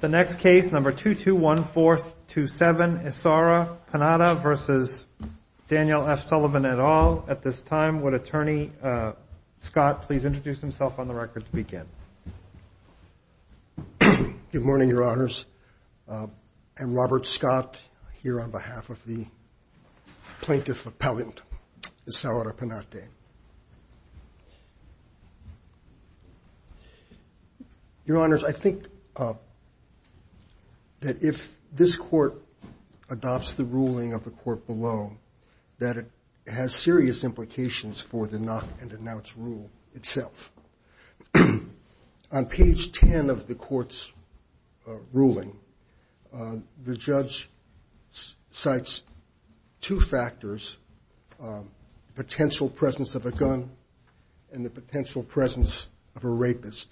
The next case, number 221-427, Issara Panate v. Daniel F. Sullivan et al. At this time, would Attorney Scott please introduce himself on the record to begin? Good morning, Your Honors. I'm Robert Scott, here on behalf of the plaintiff appellant, Issara Panate. Your Honors, I think that if this court adopts the ruling of the court below, that it has serious implications for the knock-and-denounce rule itself. On page 10 of the court's ruling, the judge cites two factors, the potential presence of a gun and the potential presence of a rapist,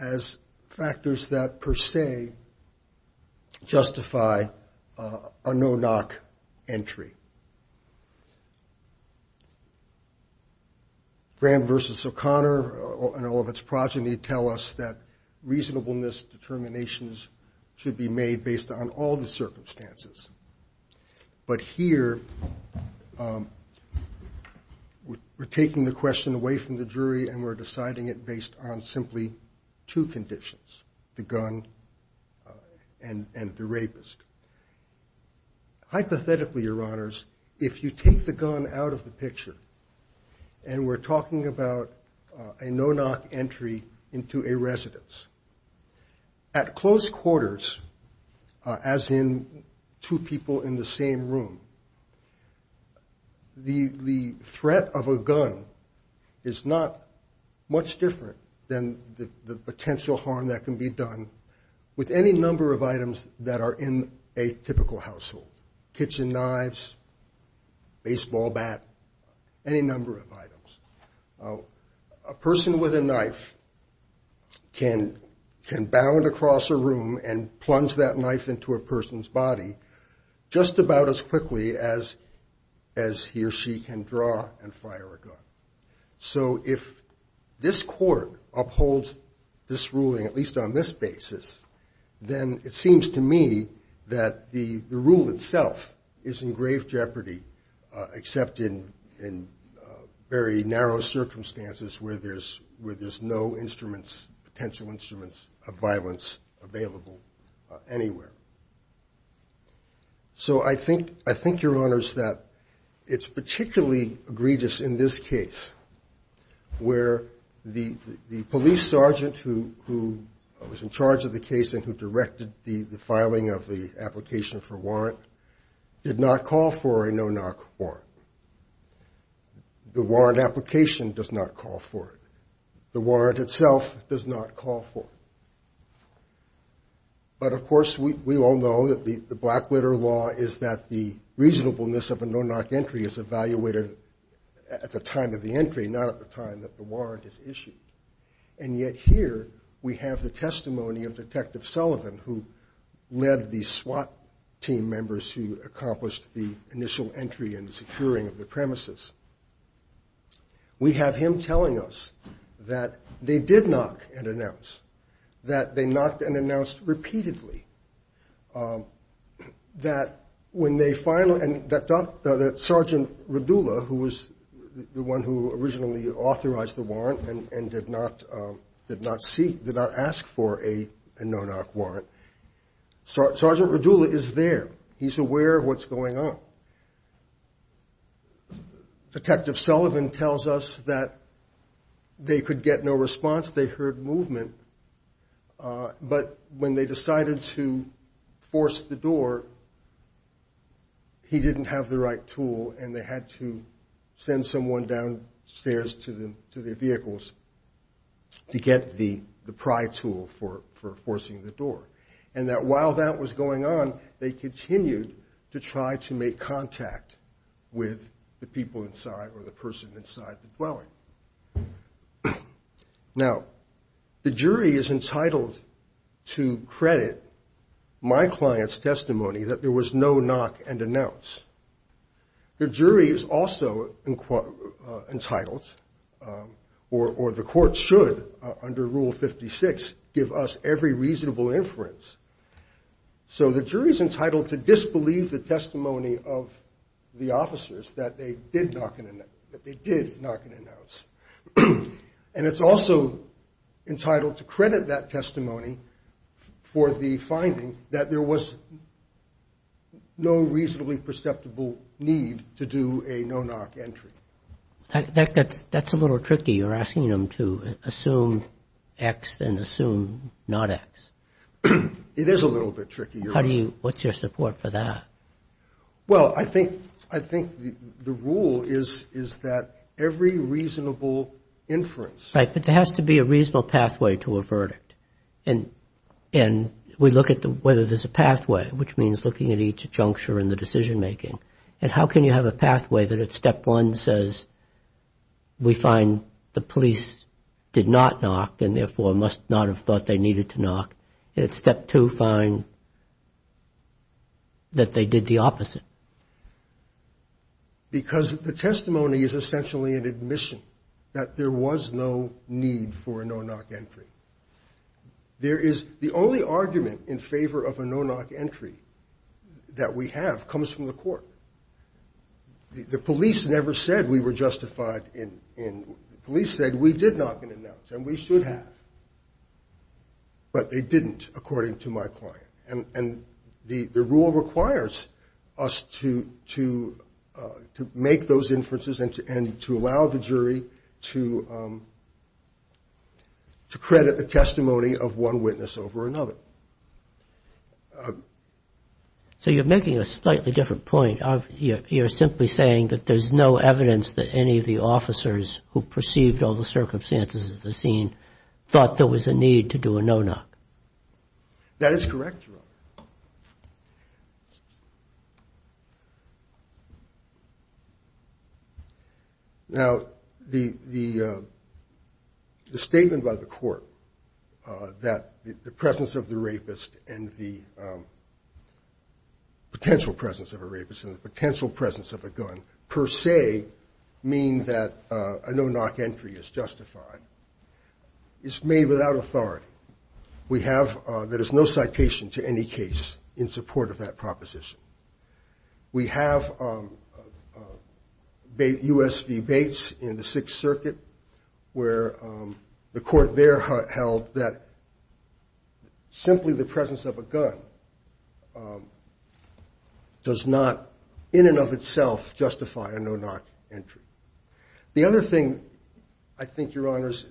as factors that per se justify a no-knock entry. Graham v. O'Connor and all of its progeny tell us that reasonableness determinations should be made based on all the circumstances. But here, we're taking the question away from the jury and we're deciding it based on simply two conditions, the gun and the rapist. Hypothetically, Your Honors, if you take the gun out of the picture and we're talking about a no-knock entry into a residence, at close quarters, as in two people in the same room, the threat of a gun is not much different than the potential harm that can be done with any number of items that are in a typical household, kitchen knives, baseball bat, any number of items. A person with a knife can bound across a room and plunge that knife into a person's body just about as quickly as he or she can draw and fire a gun. So if this court upholds this ruling, at least on this basis, then it seems to me that the rule itself is in grave jeopardy, except in very narrow circumstances where there's no instruments, potential instruments, of violence available anywhere. So I think, Your Honors, that it's particularly egregious in this case where the police sergeant who was in charge of the case and who directed the filing of the application for warrant did not call for a no-knock warrant. The warrant application does not call for it. The warrant itself does not call for it. But, of course, we all know that the Blackwater law is that the reasonableness of a no-knock entry is evaluated at the time of the entry, not at the time that the warrant is issued. And yet here we have the testimony of Detective Sullivan, who led the SWAT team members who accomplished the initial entry and securing of the premises. We have him telling us that they did knock and announce, that they knocked and announced repeatedly, that Sergeant Radula, who was the one who originally authorized the warrant and did not ask for a no-knock warrant, Sergeant Radula is there. He's aware of what's going on. Detective Sullivan tells us that they could get no response. They heard movement. But when they decided to force the door, he didn't have the right tool, and they had to send someone downstairs to their vehicles to get the pry tool for forcing the door. And that while that was going on, they continued to try to make contact with the people inside or the person inside the dwelling. Now, the jury is entitled to credit my client's testimony that there was no knock and announce. The jury is also entitled, or the court should, under Rule 56, give us every reasonable inference. So the jury is entitled to disbelieve the testimony of the officers that they did knock and announce. And it's also entitled to credit that testimony for the finding that there was no reasonably perceptible need to do a no-knock entry. That's a little tricky. You're asking them to assume X and assume not X. It is a little bit tricky. What's your support for that? Well, I think the rule is that every reasonable inference. Right, but there has to be a reasonable pathway to a verdict. And we look at whether there's a pathway, which means looking at each juncture in the decision-making. And how can you have a pathway that at Step 1 says we find the police did not knock and, therefore, must not have thought they needed to knock? And at Step 2 find that they did the opposite. Because the testimony is essentially an admission that there was no need for a no-knock entry. There is the only argument in favor of a no-knock entry that we have comes from the court. The police never said we were justified in. The police said we did knock and announce and we should have. But they didn't, according to my client. And the rule requires us to make those inferences and to allow the jury to credit the testimony of one witness over another. So you're making a slightly different point. You're simply saying that there's no evidence that any of the officers who perceived all the circumstances of the scene thought there was a need to do a no-knock. That is correct, Your Honor. Now, the statement by the court that the presence of the rapist and the potential presence of a rapist and the potential presence of a gun, per se, mean that a no-knock entry is justified is made without authority. We have, there is no citation to any case in support of that proposition. We have U.S. v. Bates in the Sixth Circuit where the court there held that simply the presence of a gun does not in and of itself justify a no-knock entry. The other thing, I think, Your Honors,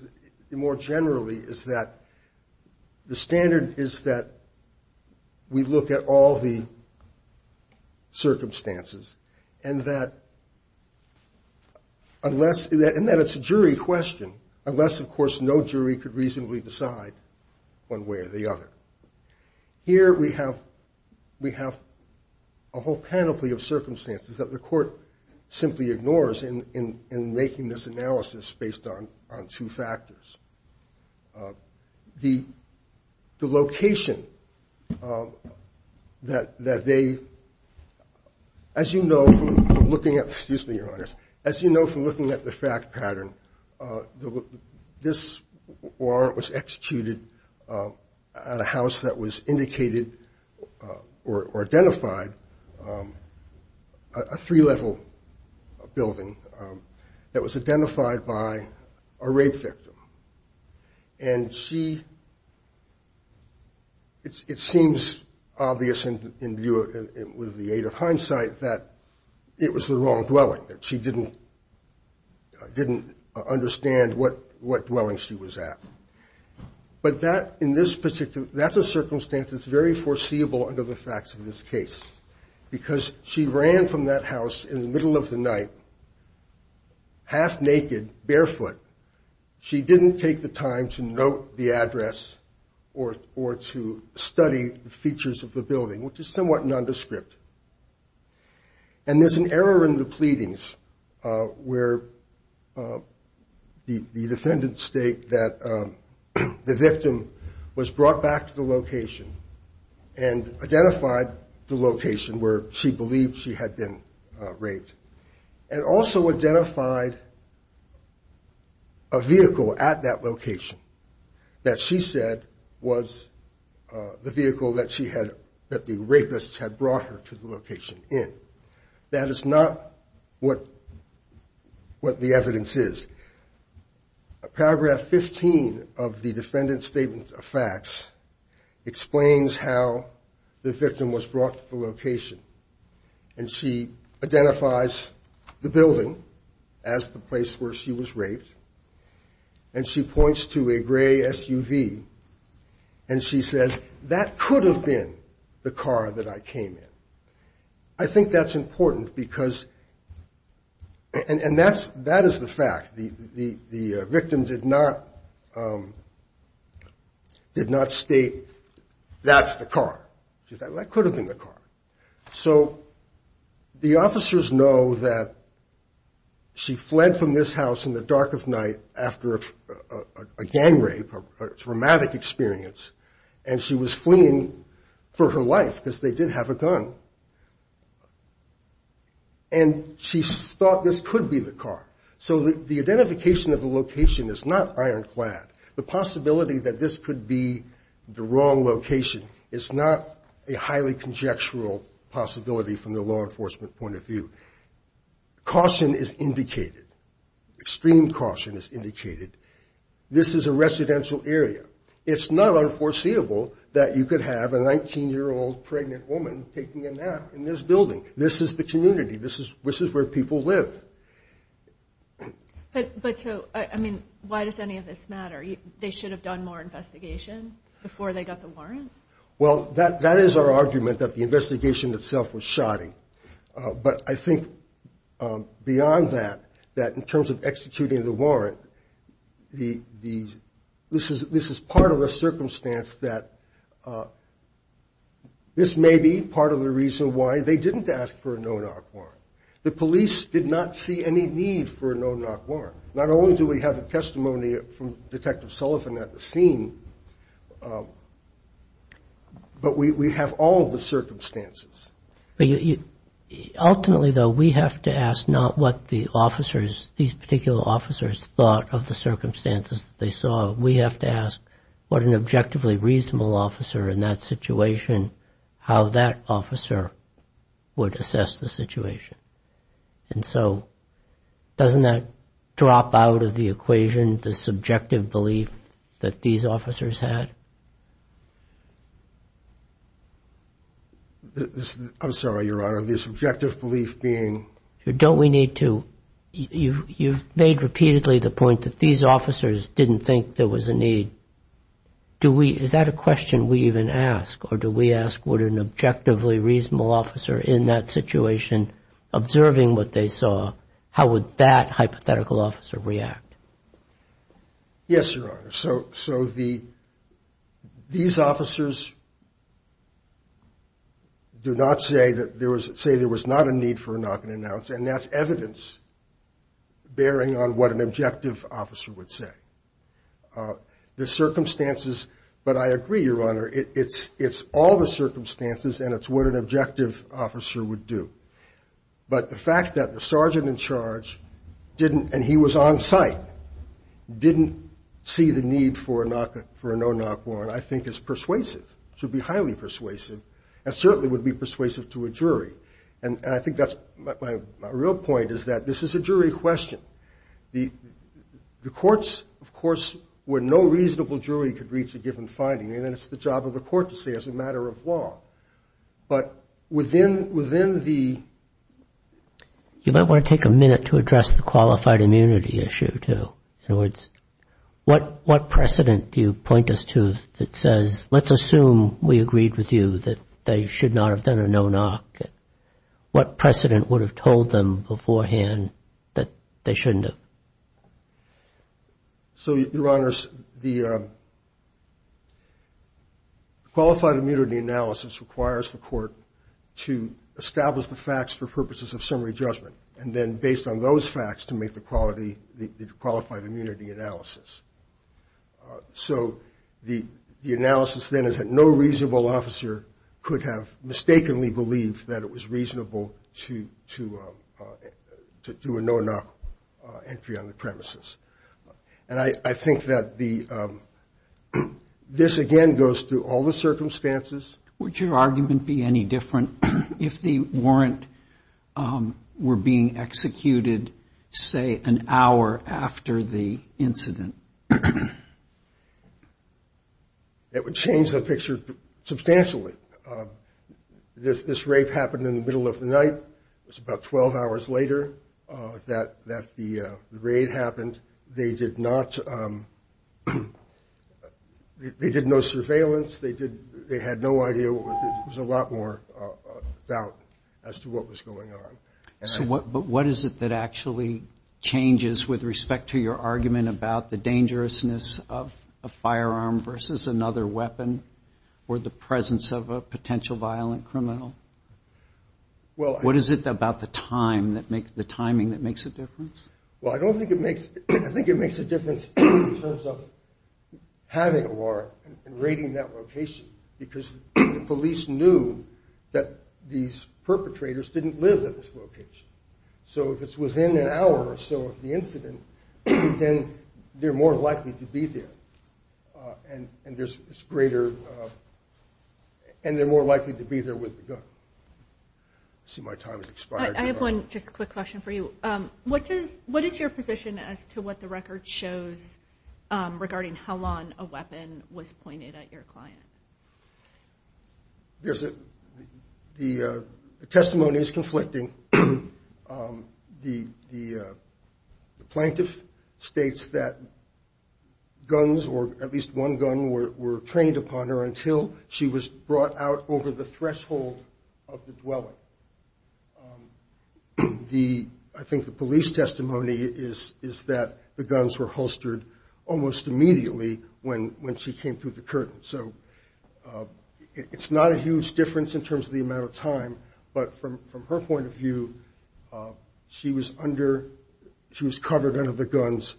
more generally, is that the standard is that we look at all the circumstances and that unless, and that it's a jury question, unless, of course, no jury could reasonably decide one way or the other. Here we have a whole panoply of circumstances that the court simply ignores in making this analysis based on two factors. The location that they, as you know from looking at, excuse me, Your Honors, as you know from looking at the fact pattern, this warrant was executed at a house that was indicated or identified, a three-level building that was identified by a rape victim. And she, it seems obvious with the aid of hindsight that it was the wrong dwelling, that she didn't understand what dwelling she was at. But that, in this particular, that's a circumstance that's very foreseeable under the facts of this case. Because she ran from that house in the middle of the night, half-naked, barefoot. She didn't take the time to note the address or to study the features of the building, which is somewhat nondescript. And there's an error in the pleadings where the defendant's state that the building was identified. The victim was brought back to the location and identified the location where she believed she had been raped. And also identified a vehicle at that location that she said was the vehicle that she had, that the rapists had brought her to the location in. That is not what the evidence is. Paragraph 15 of the defendant's statement of facts explains how the victim was brought to the location. And she identifies the building as the place where she was raped. And she points to a gray SUV and she says, that could have been the car that I came in. I think that's important because, and that is the fact, the victim did not state, that's the car. She said, that could have been the car. So the officers know that she fled from this house in the dark of night after a gang rape, a traumatic experience. And she was fleeing for her life because they did have a gun. And she thought this could be the car. So the identification of the location is not ironclad. The possibility that this could be the wrong location is not a highly conjectural possibility from the law enforcement point of view. Caution is indicated. Extreme caution is indicated. This is a residential area. It's not unforeseeable that you could have a 19-year-old pregnant woman taking a nap in this building. This is the community. This is where people live. But so, I mean, why does any of this matter? They should have done more investigation before they got the warrant? Well, that is our argument, that the investigation itself was shoddy. But I think beyond that, that in terms of executing the warrant, this is part of the circumstance that this may be part of the reason why they didn't ask for a no-knock warrant. The police did not see any need for a no-knock warrant. Not only do we have the testimony from Detective Sullivan at the scene, but we have all of the circumstances. Ultimately, though, we have to ask not what the officers, these particular officers, thought of the circumstances that they saw. We have to ask what an objectively reasonable officer in that situation, how that officer would assess the situation. And so, doesn't that drop out of the equation, the subjective belief that these officers had? I'm sorry, Your Honor, the subjective belief being... You've made repeatedly the point that these officers didn't think there was a need. Is that a question we even ask, or do we ask what an objectively reasonable officer in that situation, observing what they saw, how would that hypothetical officer react? Yes, Your Honor. So these officers do not say that there was not a need for a knock-and-announce, and that's evidence bearing on what an objective officer would say. The circumstances, but I agree, Your Honor, it's all the circumstances, and it's what an objective officer would do. But the fact that the sergeant in charge didn't, and he was on site, didn't see the need for a no-knock warrant, I think is persuasive. It should be highly persuasive, and certainly would be persuasive to a jury. And I think that's my real point, is that this is a jury question. Of course, where no reasonable jury could reach a given finding, and it's the job of the court to say as a matter of law. But within the... You might want to take a minute to address the qualified immunity issue, too. In other words, what precedent do you point us to that says, let's assume we agreed with you that they should not have done a no-knock? What precedent would have told them beforehand that they shouldn't have? So, Your Honors, the qualified immunity analysis requires the court to establish the facts for purposes of summary judgment. And then based on those facts, to make the qualified immunity analysis. So the analysis then is that no reasonable officer could have mistakenly believed that it was reasonable to do a no-knock entry on the premises. And I think that this, again, goes through all the circumstances. Would your argument be any different if the warrant were being executed, say, an hour after the incident? It would change the picture substantially. This rape happened in the middle of the night. They did not... They did no surveillance. There was a lot more doubt as to what was going on. So what is it that actually changes with respect to your argument about the dangerousness of a firearm versus another weapon, or the presence of a potential violent criminal? What is it about the timing that makes a difference? I think it makes a difference in terms of having a warrant and rating that location. Because the police knew that these perpetrators didn't live at this location. So if it's within an hour or so of the incident, then they're more likely to be there. And there's greater... And they're more likely to be there with the gun. The record shows, regarding how long a weapon was pointed at your client. The testimony is conflicting. The plaintiff states that guns, or at least one gun, were trained upon her until she was brought out over the threshold of the dwelling. I think the police testimony is that the guns were holstered almost immediately when she came through the curtain. So it's not a huge difference in terms of the amount of time. But from her point of view, she was under... She was covered under the guns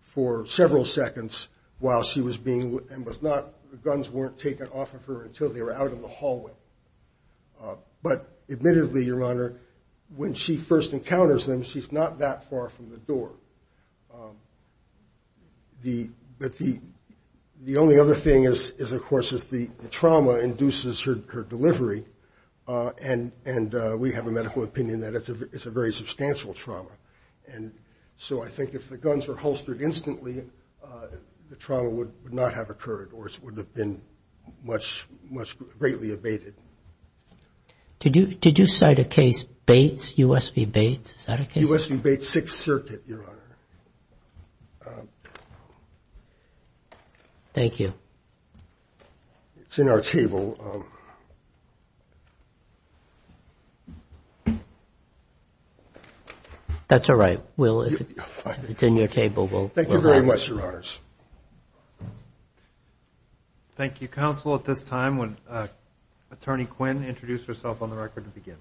for several seconds while she was being... The guns weren't taken off of her until they were out of the hallway. But admittedly, Your Honor, when she first encounters them, she's not that far from the door. The only other thing, of course, is the trauma induces her delivery. And we have a medical opinion that it's a very substantial trauma. And so I think if the guns were holstered instantly, the trauma would not have occurred, or it would have been greatly abated. Did you cite a case, Bates, U.S. v. Bates? Is that a case? U.S. v. Bates, Sixth Circuit, Your Honor. Thank you. That's all right, Will. Thank you very much, Your Honors. Thank you, Counsel. At this time, Attorney Quinn will introduce herself on the record to begin.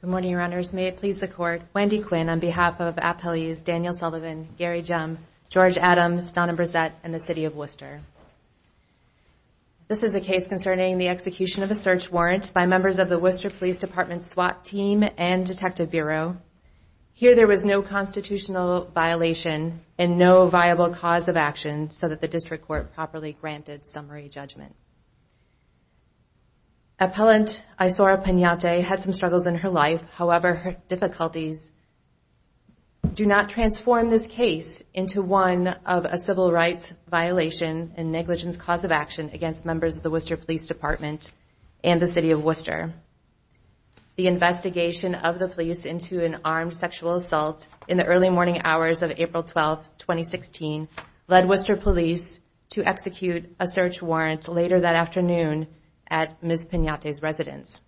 Good morning, Your Honors. May it please the Court, Wendy Quinn, on behalf of appellees Daniel Sullivan, Gary Jum, George Adams, Donna Brissett, and the City of Worcester. This is a case concerning the execution of a search warrant by members of the Worcester Police Department SWAT team and Detective Bureau. Here, there was no constitutional violation and no viable cause of action so that the District Court properly granted summary judgment. Appellant Isora Pignate had some struggles in her life. However, her difficulties do not transform this case into one of a civil rights violation and negligence cause of action against members of the Worcester Police Department and the City of Worcester. The investigation of the police into an armed sexual assault in the early morning hours of April 12, 2016 led Worcester Police to execute a search warrant later that afternoon at Ms. Pignate's residence.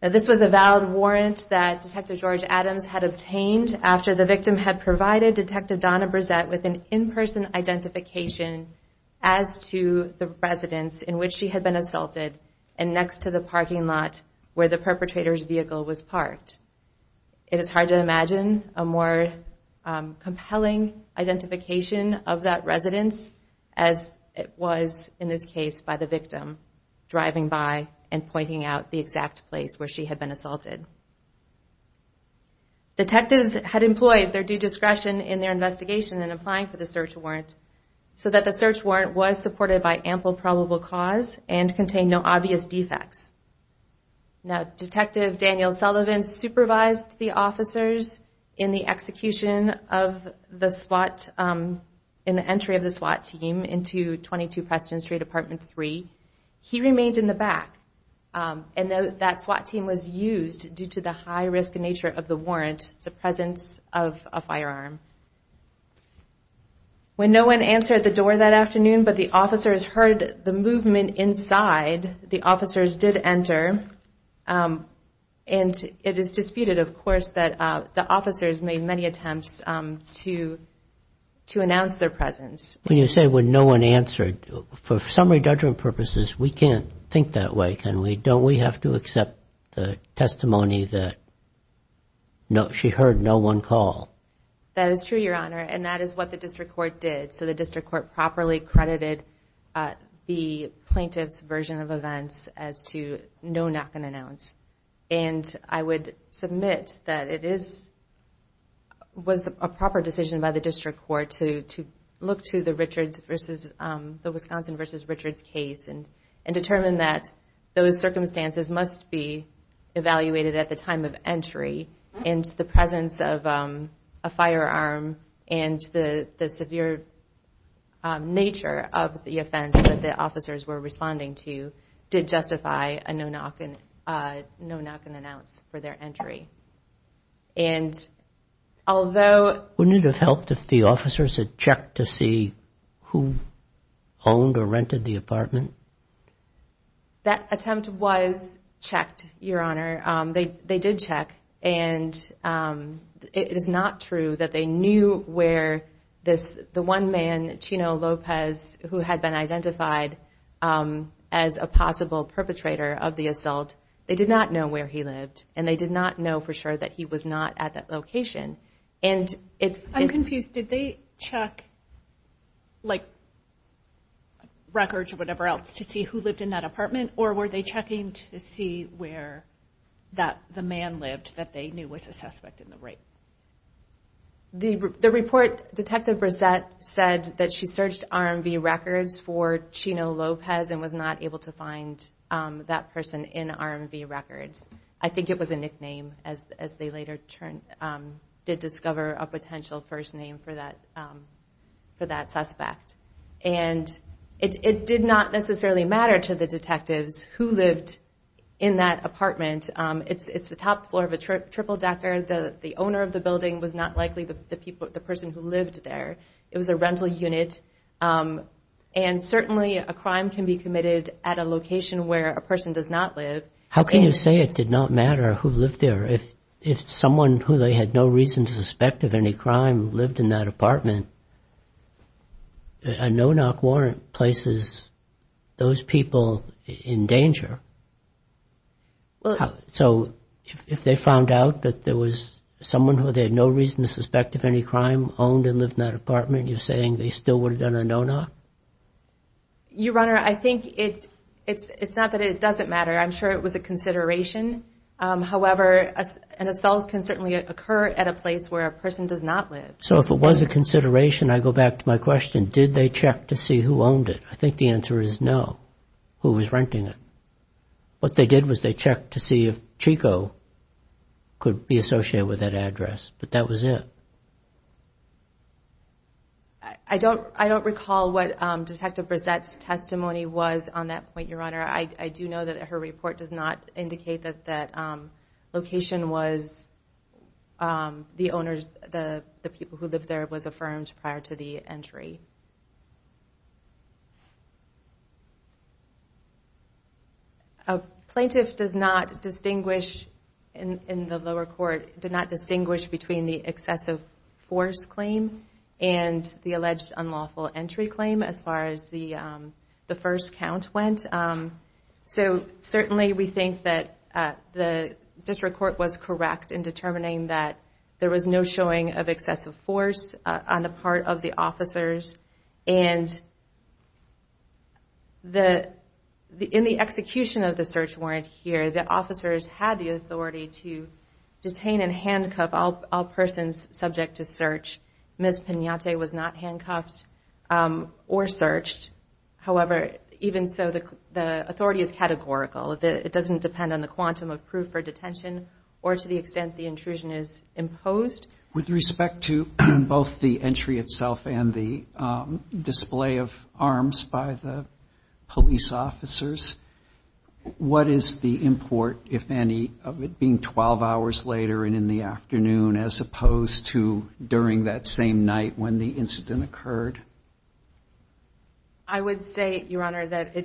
This was a valid warrant that Detective George Adams had obtained after the victim had provided Detective Donna Brissett with an in-person identification as to the residence in which she had been assaulted and next to the parking lot where the perpetrator's vehicle was parked. It is hard to imagine a more compelling identification of that residence as it was in this case by the victim driving by and pointing out the exact place where she had been assaulted. Detectives had employed their due discretion in their investigation in applying for the search warrant so that the search warrant was supported by ample probable cause and contained no obvious defects. Detective Daniel Sullivan supervised the officers in the execution of the SWAT in the entry of the SWAT team into 22 Preston Street, Apartment 3. He remained in the back and that SWAT team was used due to the high risk nature of the warrant, the presence of a firearm. When no one answered the door that afternoon but the officers heard the movement inside, the officers did enter and it is disputed of course that the officers made many attempts to announce their presence. When you say when no one answered, for summary judgment purposes, we can't think that way, can we? Don't we have to accept the testimony that she heard no one call? That is true, Your Honor, and that is what the district court did. So the district court properly credited the plaintiff's version of events as to no knock and announce. And I would submit that it was a proper decision by the district court to look to the Wisconsin v. Richards case and determine that those circumstances must be evaluated at the time of entry and the presence of a firearm and the severe nature of the offense that the officers were responding to did justify a no knock and announce for their entry. Wouldn't it have helped if the officers had checked to see who owned or rented the apartment? That attempt was checked, Your Honor. They did check and it is not true that they knew where the one man, Chino Lopez, who had been identified as a possible perpetrator of the assault, they did not know where he lived and they did not know for sure that he was not at that location. I'm confused. Did they check records or whatever else to see who lived in that apartment or were they checking to see where the man lived that they knew was a suspect in the rape? The report, Detective Brissette said that she searched RMV records for Chino Lopez and was not able to find that person in RMV records. I think it was a nickname as they later did discover a potential first name for that suspect. And it did not necessarily matter to the detectives who lived in that apartment. It's the top floor of a triple decker. The owner of the building was not likely the person who lived there. It was a rental unit and certainly a crime can be committed at a location where a person does not live. How can you say it did not matter who lived there? If someone who they had no reason to suspect of any crime lived in that apartment, a no-knock warrant places those people in danger. So if they found out that there was someone who they had no reason to suspect of any crime owned and lived in that apartment, you're saying they still would have done a no-knock? Your Honor, I think it's not that it doesn't matter. I'm sure it was a consideration. However, an assault can certainly occur at a place where a person does not live. So if it was a consideration, I go back to my question, did they check to see who owned it? I think the answer is no, who was renting it. What they did was they checked to see if Chico could be associated with that address, but that was it. I don't recall what Detective Brissette's testimony was on that point, Your Honor. I do know that her report does not indicate that that location was the owner's, who lived there was affirmed prior to the entry. A plaintiff does not distinguish, in the lower court, between the excessive force claim and the alleged unlawful entry claim, as far as the first count went. So certainly we think that the district court was correct in determining that there was no showing of excessive force on the part of the officers. And in the execution of the search warrant here, the officers had the authority to detain and handcuff all persons subject to search. Ms. Pinante was not handcuffed or searched. However, even so, the authority is categorical. It doesn't depend on the quantum of proof for detention or to the extent the intrusion is imposed. With respect to both the entry itself and the display of arms by the police officers, what is the import, if any, of it being 12 hours later and in the afternoon, as opposed to during that same night when the incident occurred? I would say, Your Honor, that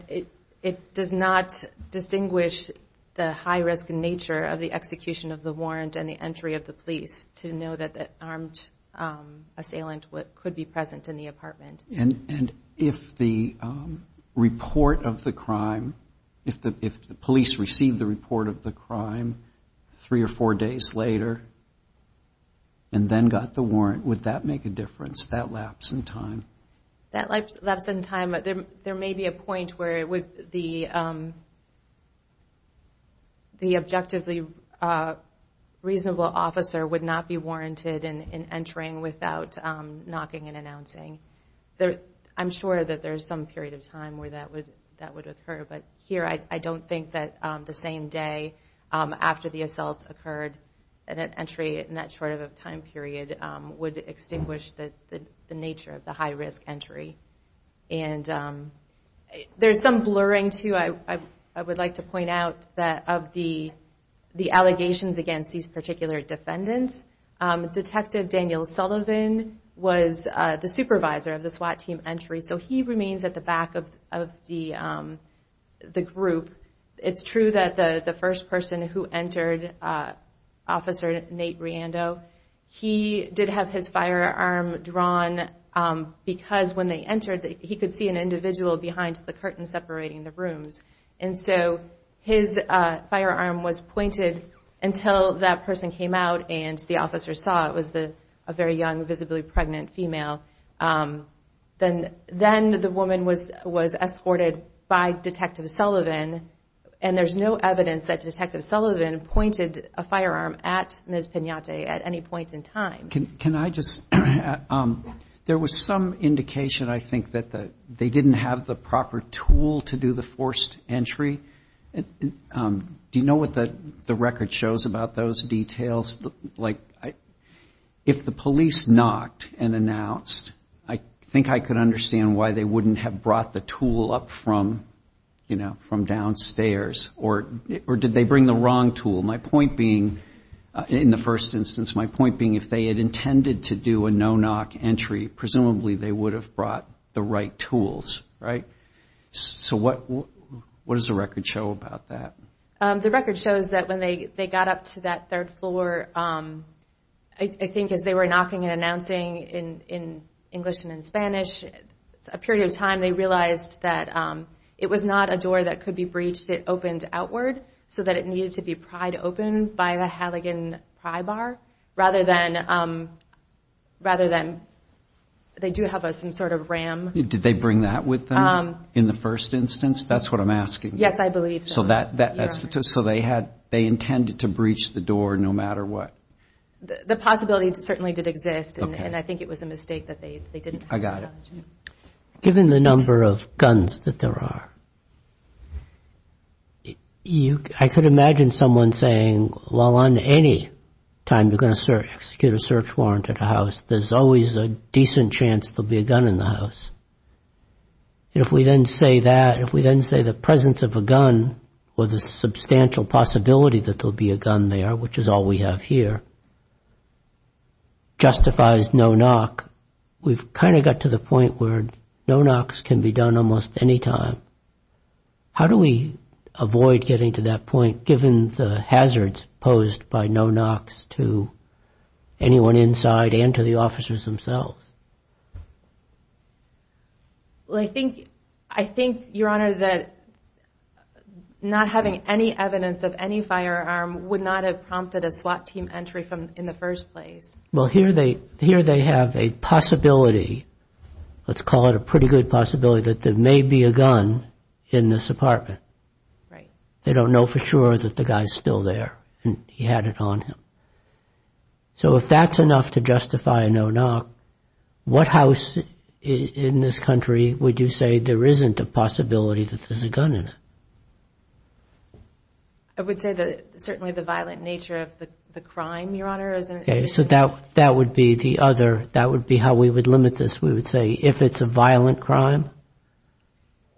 it does not distinguish the high-risk nature of the execution of the warrant and the entry of the police to know that the armed assailant could be present in the apartment. And if the police received the report of the crime three or four days later and then got the warrant, would that make a difference, that lapse in time? That lapse in time, there may be a point where the objectively reasonable officer would not be warranted in entering without knocking and announcing. I'm sure that there's some period of time where that would occur. But here, I don't think that the same day after the assault occurred, that an entry in that short of a time period would extinguish the nature of the high-risk entry. There's some blurring, too. I would like to point out that of the allegations against these particular defendants, Detective Daniel Sullivan was the supervisor of the SWAT team entry, so he remains at the back of the group. It's true that the first person who entered, Officer Nate Reando, he did have his firearm drawn because when they entered, he could see an individual behind the curtain separating the rooms. And so his firearm was pointed until that person came out and the officer saw it was a very young, visibly pregnant female. Then the woman was escorted by Detective Sullivan, and there's no evidence that Detective Sullivan pointed a firearm at Ms. Pinata at any point in time. Can I just add, there was some indication, I think, that they didn't have the proper tool to do the forced entry. Do you know what the record shows about those details? If the police knocked and announced, I think I could understand why they wouldn't have brought the tool up from downstairs, or did they bring the wrong tool? My point being, in the first instance, my point being, if they had intended to do a no-knock entry, presumably they would have brought the right tools, right? So what does the record show about that? The record shows that when they got up to that third floor, I think as they were knocking and announcing in English and in Spanish, a period of time, they realized that it was not a door that could be breached. It opened outward, so that it needed to be pried open by the Halligan pry bar, rather than, they do have some sort of ram. Did they bring that with them in the first instance? That's what I'm asking. Yes, I believe so. Given the number of guns that there are, I could imagine someone saying, well, on any time you're going to execute a search warrant at a house, there's always a decent chance there'll be a gun in the house. If we then say the presence of a gun, or the substantial possibility that there'll be a gun there, which is all we have here, justifies no-knock, we've kind of got to the point where no-knocks can be done almost any time. How do we avoid getting to that point, given the hazards posed by no-knocks to anyone inside and to the officers themselves? I think, Your Honor, that not having any evidence of any firearm would not have prompted a SWAT team entry in the first place. Here they have a possibility, let's call it a pretty good possibility, that there may be a gun in this apartment. They don't know for sure that the guy's still there and he had it on him. So if that's enough to justify a no-knock, what house in this country would you say there isn't a possibility that there's a gun in it? I would say certainly the violent nature of the crime, Your Honor. That would be how we would limit this. We would say if it's a violent crime?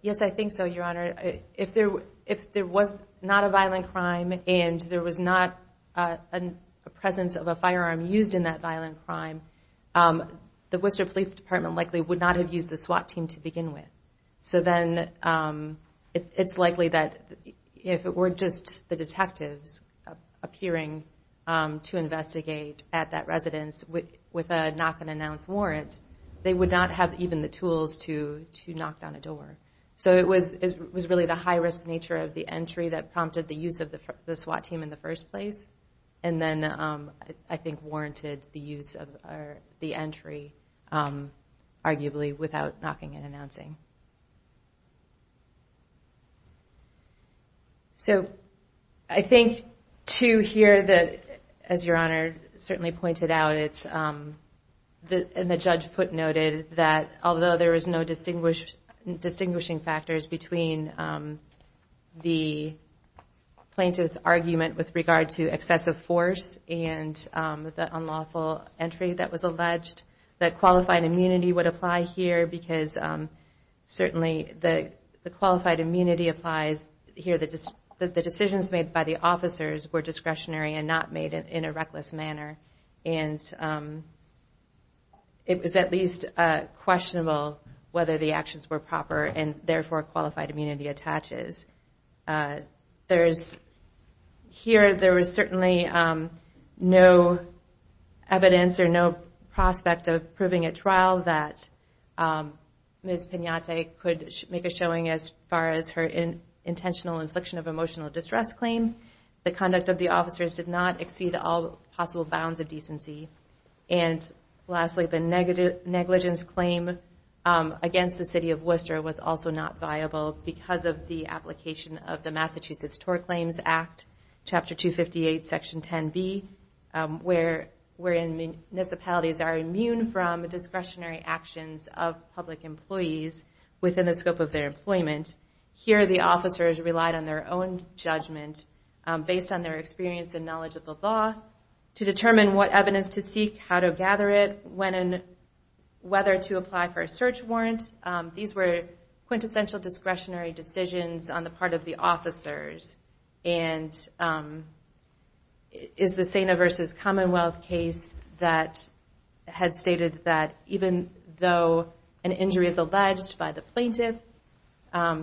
Yes, I think so, Your Honor. If there was not a violent crime and there was not a presence of a firearm used in that violent crime, the Worcester Police Department likely would not have used the SWAT team to begin with. So then it's likely that if it were just the detectives appearing to investigate at that residence with a knock-and-announce warrant, they would not have even the tools to knock down a door. So it was really the high-risk nature of the entry that prompted the use of the SWAT team in the first place. And then I think warranted the use of the entry, arguably, without knocking and announcing. So I think, too, here, as Your Honor certainly pointed out, and the judge footnoted, that although there was no distinguishing factors between the plaintiff's argument with regard to excessive force and the unlawful entry that was alleged, that qualified immunity would apply here, because certainly the qualified immunity applies here. The decisions made by the officers were discretionary and not made in a reckless manner. And it was at least questionable whether the actions were proper and therefore qualified immunity attaches. Here, there was certainly no evidence or no prospect of proving at trial that Ms. Pinata could make a showing as far as her intentional infliction of emotional distress claim. The conduct of the officers did not exceed all possible bounds of decency. And lastly, the negligence claim against the City of Worcester was also not viable because of the application of the Massachusetts TOR Claims Act, Chapter 258, Section 10b, wherein municipalities are immune from discretionary actions of public employees within the scope of their employment. Based on their experience and knowledge of the law, to determine what evidence to seek, how to gather it, when and whether to apply for a search warrant. These were quintessential discretionary decisions on the part of the officers. And it is the SANA versus Commonwealth case that had stated that even though an injury is alleged by the plaintiff,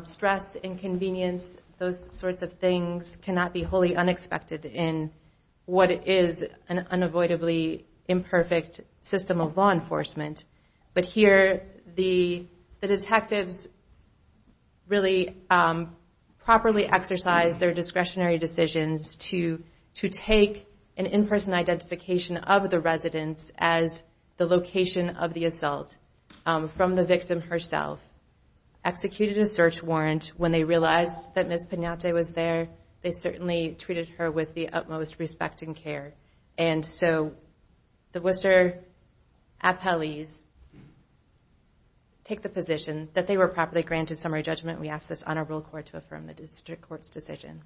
stress, inconvenience, those sorts of things cannot be wholly unexpected in what is an unavoidably imperfect system of law enforcement. But here, the detectives really properly exercised their discretionary decisions to take an in-person identification of the residents as the location of the assault from the victim herself. Executed a search warrant. When they realized that Ms. Penate was there, they certainly treated her with the utmost respect and care. And so, the Worcester appellees take the position that they were properly granted summary judgment. We ask this honorable court to affirm the district court's decision.